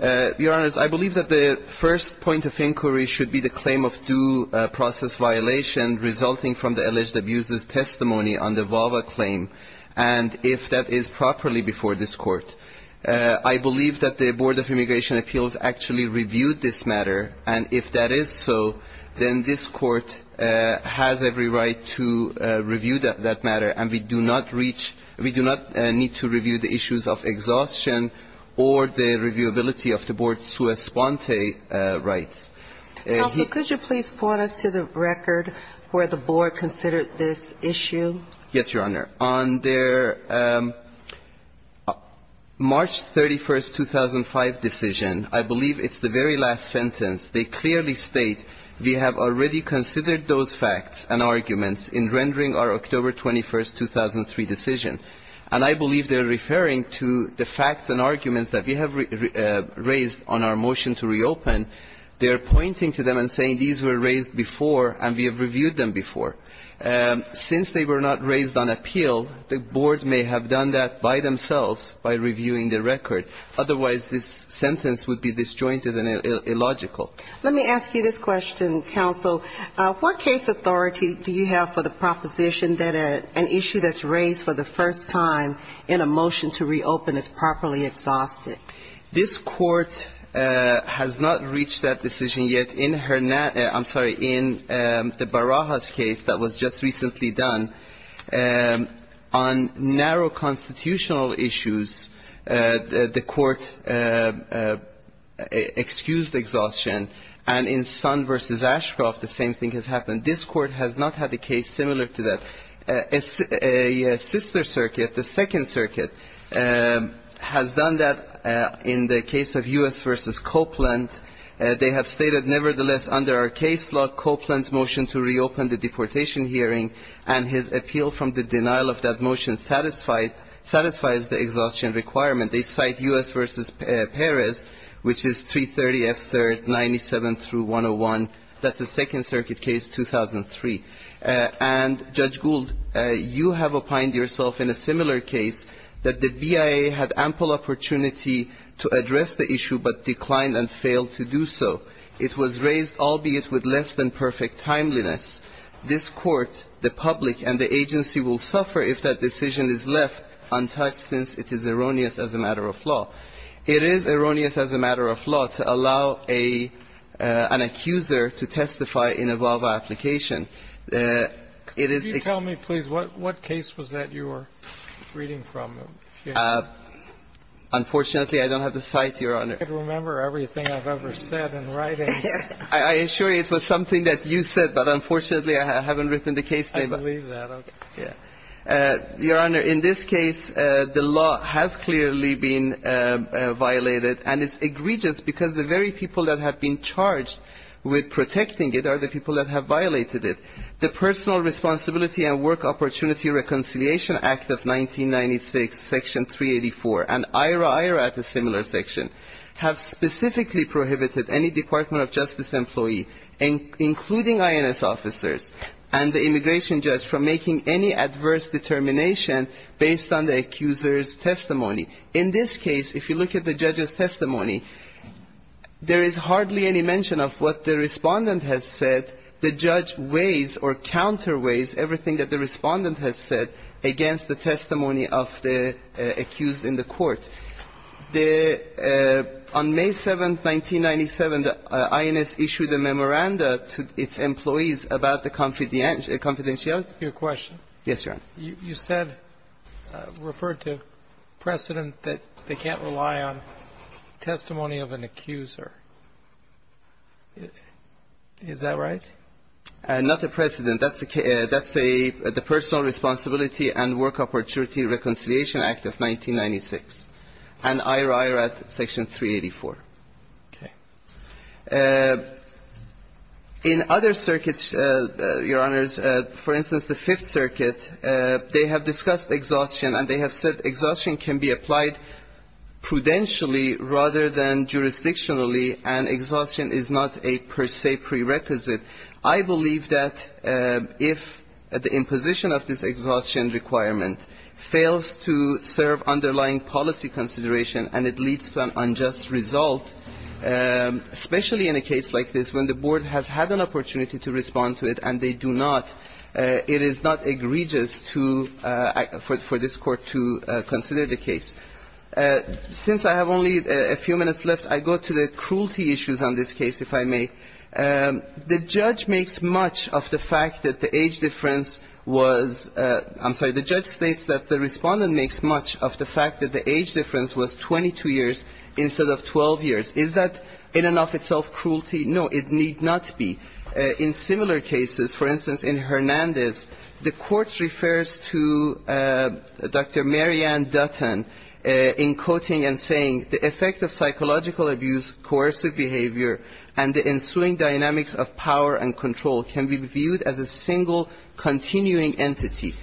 Your Honor, I believe that the first point of inquiry should be the claim of due process violation resulting from the alleged abuser's testimony under VAVA claim, and if that is properly before this Court. I believe that the Board of Immigration Appeals actually reviewed this matter, and if that is so, then this Court has every right to review that matter, and we do not need to review the issues of exhaustion or the reviewability of the Board's sua sponte rights. Counsel, could you please point us to the record where the Board considered this issue? Yes, Your Honor. On their March 31, 2005 decision, I believe it's the very last sentence. They clearly state, we have already considered those facts and arguments in rendering our October 21, 2003 decision, and I believe they are referring to the facts and arguments that we have raised on our motion to reopen. They are pointing to them and saying these were raised before and we have reviewed them before. Since they were not raised on appeal, the Board may have done that by themselves by reviewing the record. Otherwise, this sentence would be disjointed and illogical. Let me ask you this question, Counsel. What case authority do you have for the proposition that an issue that's raised for the first time in a motion to reopen is properly exhausted? This Court has not reached that decision yet. In the Barahas case that was just recently done, on narrow constitutional issues, the Court excused exhaustion. And in Sun v. Ashcroft, the same thing has happened. This Court has not had a case similar to that. A sister circuit, the Second Circuit, has done that in the case of U.S. v. Copeland. They have stated, nevertheless, under our case law, Copeland's motion to reopen the deportation hearing and his appeal from the denial of that motion satisfies the exhaustion requirement. They cite U.S. v. Perez, which is 330F3rd 97-101. That's the Second Circuit case, 2003. And, Judge Gould, you have opined yourself in a similar case that the BIA had ample opportunity to address the issue but declined and failed to do so. It was raised, albeit with less than perfect timeliness. This Court, the public, and the agency will suffer if that decision is left untouched since it is erroneous as a matter of law. It is erroneous as a matter of law to allow an accuser to testify in a VAWA application. It is ex- Can you tell me, please, what case was that you were reading from? Unfortunately, I don't have the site, Your Honor. I can't remember everything I've ever said in writing. I assure you it was something that you said, but unfortunately, I haven't written the case name. I believe that. Your Honor, in this case, the law has clearly been violated, and it's egregious because the very people that have been charged with protecting it are the people that have violated it. The Personal Responsibility and Work Opportunity Reconciliation Act of 1996, Section 384, and IRA-IRA at a similar section, have specifically prohibited any Department of Justice employee, including INS officers and the immigration judge, from making any adverse determination based on the accuser's testimony. In this case, if you look at the judge's testimony, there is hardly any mention of what the Respondent has said. The judge weighs or counterweighs everything that the Respondent has said against the testimony of the accused in the court. On May 7, 1997, INS issued a memoranda to its employees about the confidentiality. Your question? Yes, Your Honor. You said, referred to precedent, that they can't rely on testimony of an accuser. Is that right? Not the precedent. That's the Personal Responsibility and Work Opportunity Reconciliation Act of 1996, and IRA-IRA at Section 384. Okay. In other circuits, Your Honors, for instance, the Fifth Circuit, they have discussed exhaustion, and they have said exhaustion can be applied prudentially rather than jurisdictionally, and exhaustion is not a per se prerequisite. I believe that if the imposition of this exhaustion requirement fails to serve underlying policy consideration and it leads to an unjust result, especially in a case like this when the board has had an opportunity to respond to it and they do not, it is not egregious for this Court to consider the case. Since I have only a few minutes left, I go to the cruelty issues on this case, if I may. The judge makes much of the fact that the age difference was ‑‑ I'm sorry. The judge states that the respondent makes much of the fact that the age difference was 22 years instead of 12 years. Is that in and of itself cruelty? No, it need not be. In similar cases, for instance, in Hernandez, the Court refers to Dr. Marianne Dutton in quoting and saying the effect of psychological abuse, coercive behavior, and the ensuing dynamics of power and control can be viewed as a single continuing entity.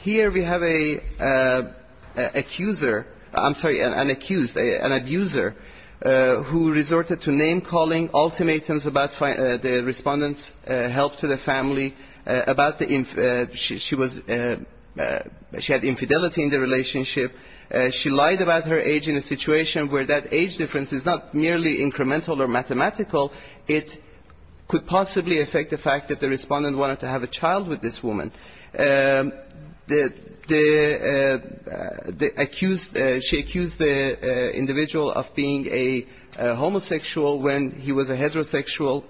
Here we have an accuser, I'm sorry, an accused, an abuser, who resorted to name-calling, ultimatums about the respondent's help to the family, about the ‑‑ she had infidelity in the relationship. She lied about her age in a situation where that age difference is not merely incremental or mathematical. It could possibly affect the fact that the respondent wanted to have a child with this woman. The accused, she accused the individual of being a homosexual when he was a heterosexual,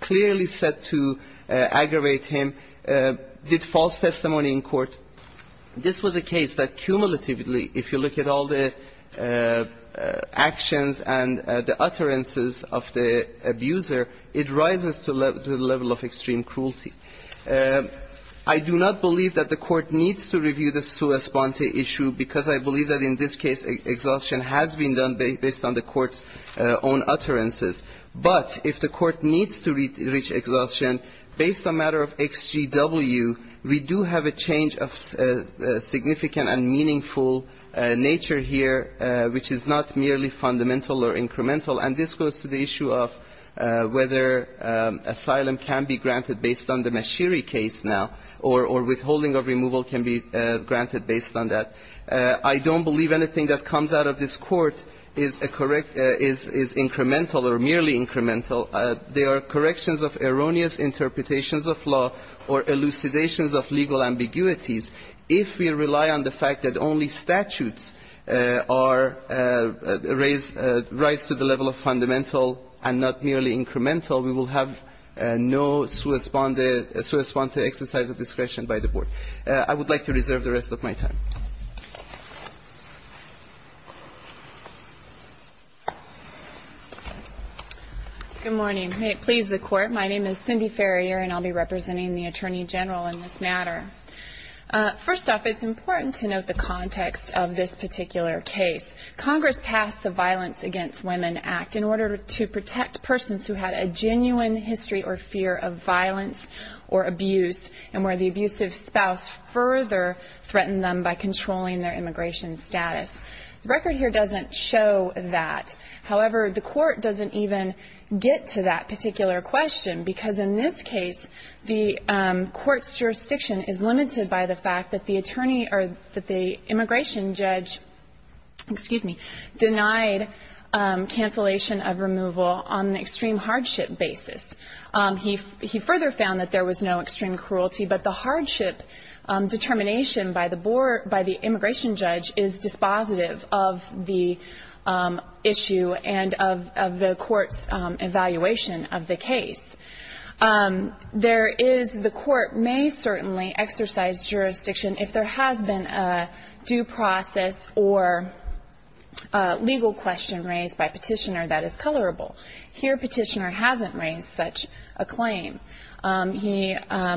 clearly set to aggravate him, did false testimony in court. This was a case that cumulatively, if you look at all the actions and the utterances of the abuser, it rises to the level of extreme cruelty. I do not believe that the Court needs to review the sua sponte issue, because I believe that in this case, exhaustion has been done based on the Court's own utterances. But if the Court needs to reach exhaustion, based on the matter of XGW, we do have a change of significant and meaningful nature here, which is not merely fundamental or incremental. And this goes to the issue of whether asylum can be granted based on the Mashiri case now, or withholding of removal can be granted based on that. I don't believe anything that comes out of this Court is incremental or merely incremental. They are corrections of erroneous interpretations of law or elucidations of legal ambiguities. If we rely on the fact that only statutes are raised, rise to the level of fundamental and not merely incremental, we will have no sua sponte exercise of discretion by the Board. I would like to reserve the rest of my time. Good morning. May it please the Court, my name is Cindy Ferrier and I'll be representing the Attorney General in this matter. First off, it's important to note the context of this particular case. Congress passed the Violence Against Women Act in order to protect persons who had a genuine history or fear of violence or abuse, and where the abusive spouse further threatened them by controlling their immigration status. The record here doesn't show that. However, the Court doesn't even get to that particular question, because in this case, the Court's jurisdiction is limited by the fact that the attorney or that the immigration judge, excuse me, denied cancellation of removal on an extreme hardship basis. He further found that there was no extreme cruelty, but the hardship determination by the immigration judge is dispositive of the issue and of the Court's evaluation of the case. There is, the Court may certainly exercise jurisdiction if there has been a due process or legal question raised by Petitioner that is colorable. Here, Petitioner hasn't raised such a claim. He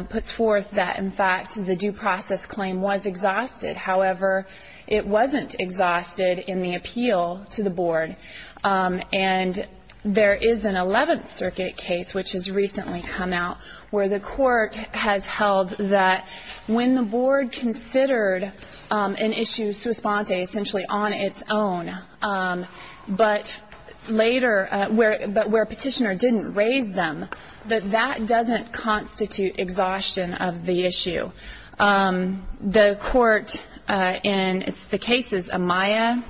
puts forth that, in fact, the due process claim was exhausted. However, it wasn't exhausted in the appeal to the Board. And there is an Eleventh Circuit case, which has recently come out, where the Court has held that when the Board considered an issue, sua sponte, essentially on its own, but later, but where Petitioner didn't raise them, that that doesn't constitute exhaustion of the issue. The Court in the cases Amaya,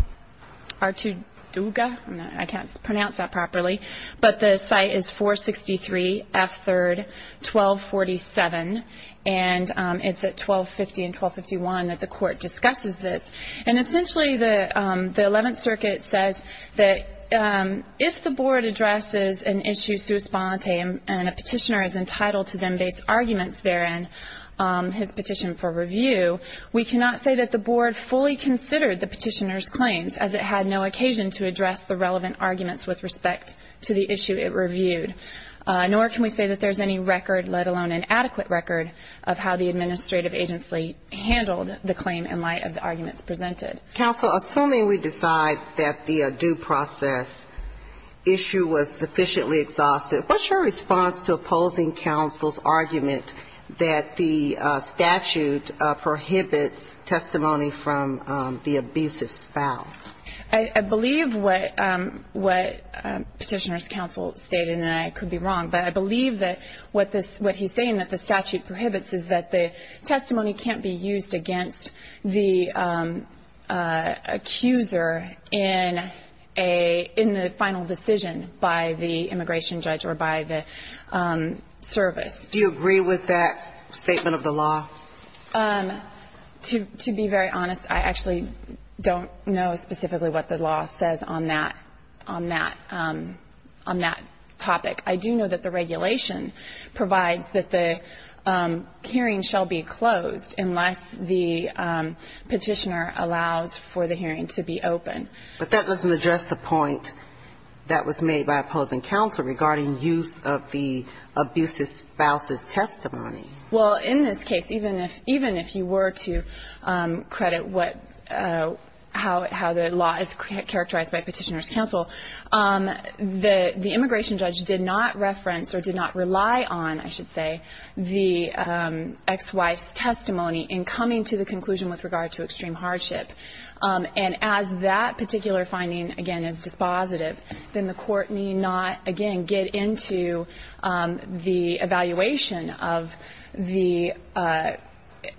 Artu Duga, I can't pronounce that properly, but the site is 463 F. 3rd, 1247, and it's at 1250 and 1251 that the Court discusses this. And essentially, the Eleventh Circuit says that if the Board addresses an issue sua sponte and a Petitioner is entitled to them-based arguments therein, his petition for review, we cannot say that the Board fully considered the Petitioner's claims, as it had no occasion to address the relevant arguments with respect to the issue it reviewed. Nor can we say that there's any record, let alone an adequate record, of how the administrative agency handled the claim in light of the arguments presented. Counsel, assuming we decide that the due process issue was sufficiently exhausted, what's your response to opposing counsel's argument that the statute prohibits testimony from the abusive spouse? I believe what Petitioner's counsel stated, and I could be wrong, but I believe that what he's saying, that the statute prohibits, is that the testimony can't be used against the accuser in the final decision by the immigration judge or by the service. Do you agree with that statement of the law? To be very honest, I actually don't know specifically what the law says on that topic. The regulation provides that the hearing shall be closed unless the Petitioner allows for the hearing to be open. But that doesn't address the point that was made by opposing counsel regarding use of the abusive spouse's testimony. Well, in this case, even if you were to credit how the law is characterized by Petitioner's counsel, the immigration judge did not reference or did not rely on, I should say, the ex-wife's testimony in coming to the conclusion with regard to extreme hardship. And as that particular finding, again, is dispositive, then the Court need not, again, get into the evaluation of the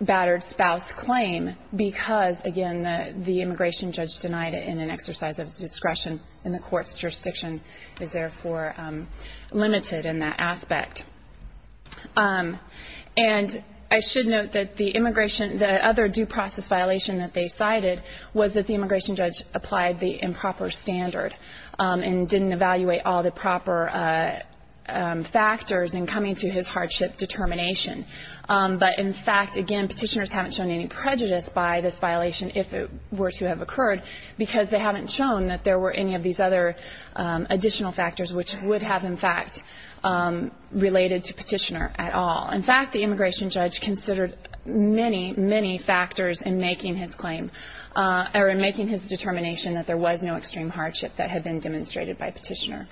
battered spouse claim because, again, the immigration judge denied it in an exercise of discretion and the Court's jurisdiction is therefore limited in that aspect. And I should note that the immigration, the other due process violation that they cited was that the immigration judge applied the improper standard and didn't evaluate all the proper factors in coming to his hardship determination. But, in fact, again, Petitioners haven't shown any prejudice by this violation if it were to have occurred because they haven't shown that there were any of these other additional factors which would have, in fact, related to Petitioner at all. In fact, the immigration judge considered many, many factors in making his claim or in making his determination that there was no extreme hardship that had been demonstrated by Petitioner.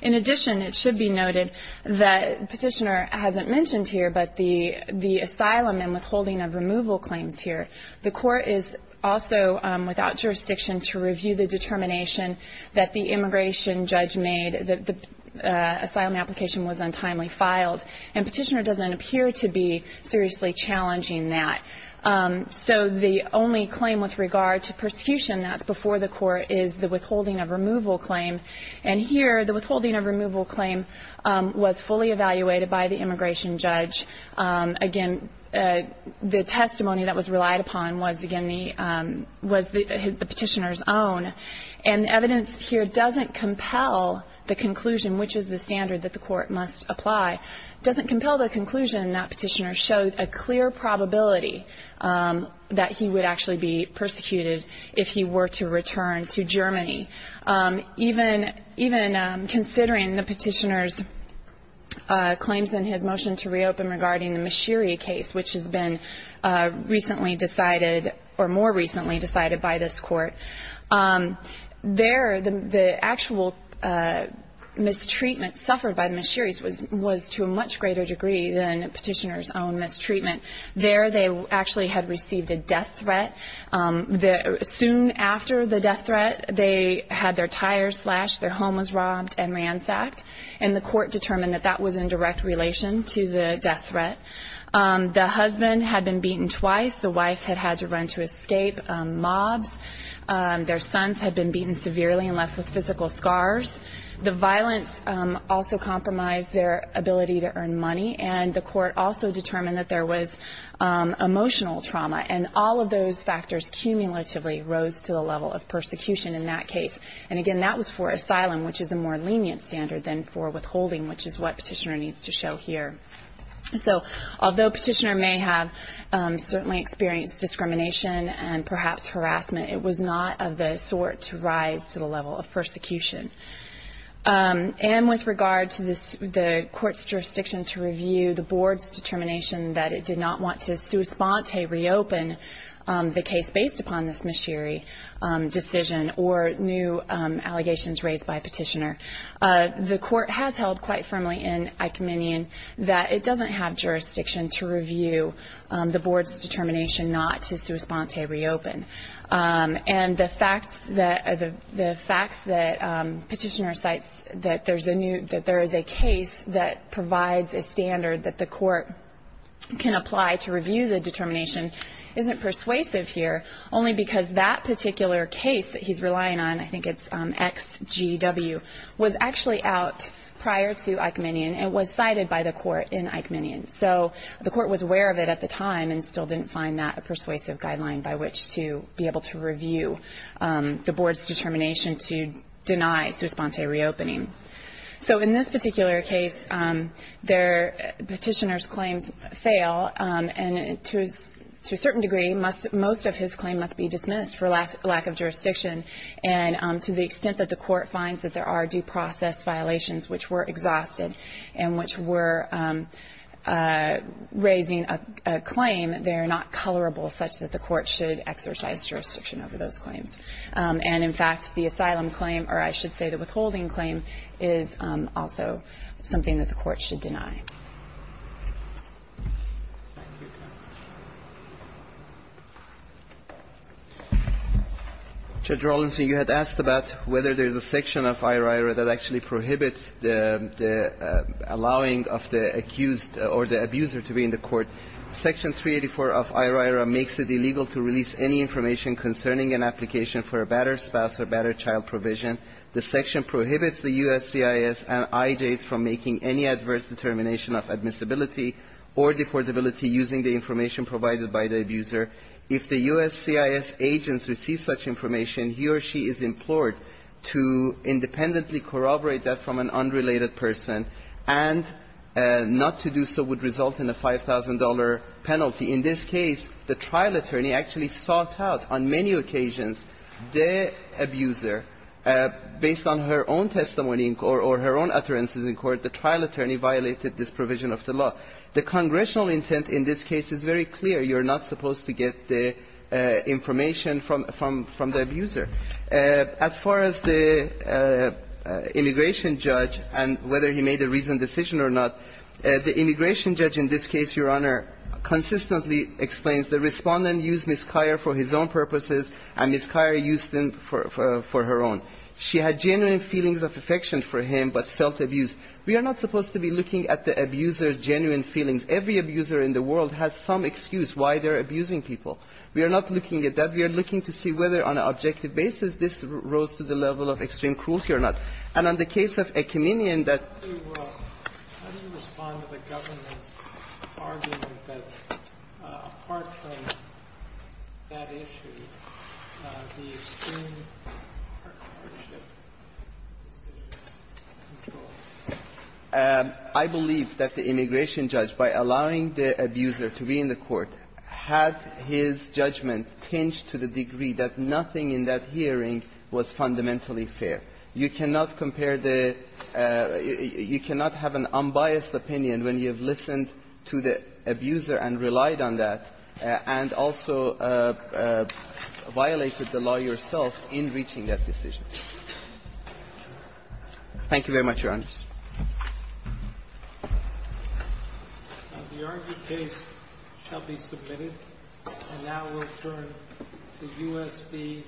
In addition, it should be noted that Petitioner hasn't mentioned here but the asylum and withholding of removal claims here. The Court is also without jurisdiction to review the determination that the immigration judge made that the asylum application was untimely filed, and Petitioner doesn't appear to be seriously challenging that. So the only claim with regard to persecution that's before the Court is the withholding of removal claim. And here, the withholding of removal claim was fully evaluated by the immigration judge. Again, the testimony that was relied upon was, again, the Petitioner's own. And the evidence here doesn't compel the conclusion, which is the standard that the Court must apply, doesn't compel the conclusion that Petitioner showed a clear probability that he would actually be persecuted if he were to return to Germany. Even considering the Petitioner's claims in his motion to reopen regarding the Mashiri case, which has been recently decided or more recently decided by this Court, there the actual mistreatment suffered by the Mashiris was to a much greater degree than Petitioner's own mistreatment. There they actually had received a death threat. Soon after the death threat, they had their tires slashed, their home was robbed and ransacked, and the Court determined that that was in direct relation to the death threat. The husband had been beaten twice. The wife had had to run to escape mobs. Their sons had been beaten severely and left with physical scars. The violence also compromised their ability to earn money, and the Court also determined that there was emotional trauma, and all of those factors cumulatively rose to the level of persecution in that case. And again, that was for asylum, which is a more lenient standard than for withholding, which is what Petitioner needs to show here. So although Petitioner may have certainly experienced discrimination and perhaps harassment, it was not of the sort to rise to the level of persecution. And with regard to the Court's jurisdiction to review the Board's determination that it did not want to sua sponte reopen the case based upon this Mashiri decision or new allegations raised by Petitioner, the Court has held quite firmly in Icominian that it doesn't have jurisdiction to review the Board's determination not to sua sponte reopen. And the facts that Petitioner cites that there is a case that provides a standard that the Court can apply to review the determination isn't persuasive here, only because that particular case that he's relying on, I think it's XGW, was actually out prior to Icominian and was cited by the Court in Icominian. So the Court was aware of it at the time and still didn't find that a persuasive guideline by which to be able to review the Board's determination to deny sua sponte reopening. So in this particular case, Petitioner's claims fail, and to a certain degree most of his claim must be dismissed for lack of jurisdiction. And to the extent that the Court finds that there are due process violations which were exhausted and which were raising a claim, they are not colorable such that the Court should exercise jurisdiction over those claims. And, in fact, the asylum claim, or I should say the withholding claim, is also something that the Court should deny. Thank you, counsel. Judge Rawlinson, you had asked about whether there's a section of IRIRA that actually prohibits the allowing of the accused or the abuser to be in the court. Section 384 of IRIRA makes it illegal to release any information concerning an application for a battered spouse or battered child provision. The section prohibits the USCIS and IJs from making any adverse determination of admissibility or deportability using the information provided by the abuser. If the USCIS agents receive such information, he or she is implored to independently corroborate that from an unrelated person, and not to do so would result in a $5,000 penalty. In this case, the trial attorney actually sought out on many occasions the abuser based on her own testimony or her own utterances in court. The trial attorney violated this provision of the law. The congressional intent in this case is very clear. You're not supposed to get the information from the abuser. As far as the immigration judge and whether he made a reasoned decision or not, the immigration judge in this case, Your Honor, consistently explains the Respondent used Ms. Kyer for his own purposes, and Ms. Kyer used him for her own. She had genuine feelings of affection for him, but felt abused. We are not supposed to be looking at the abuser's genuine feelings. Every abuser in the world has some excuse why they're abusing people. We are not looking at that. We are looking to see whether on an objective basis this rose to the level of extreme cruelty or not. And on the case of Ekiminian, that I believe that the immigration judge, by allowing the abuser to be in the court, had his judgment tinged to the degree that nothing in that hearing was fundamentally fair. You cannot compare the immigration judge's judgment to the judge's judgment unbiased opinion when you have listened to the abuser and relied on that, and also violated the law yourself in reaching that decision. Thank you very much, Your Honors. The argued case shall be submitted. And now we'll turn to U.S.B. Patino.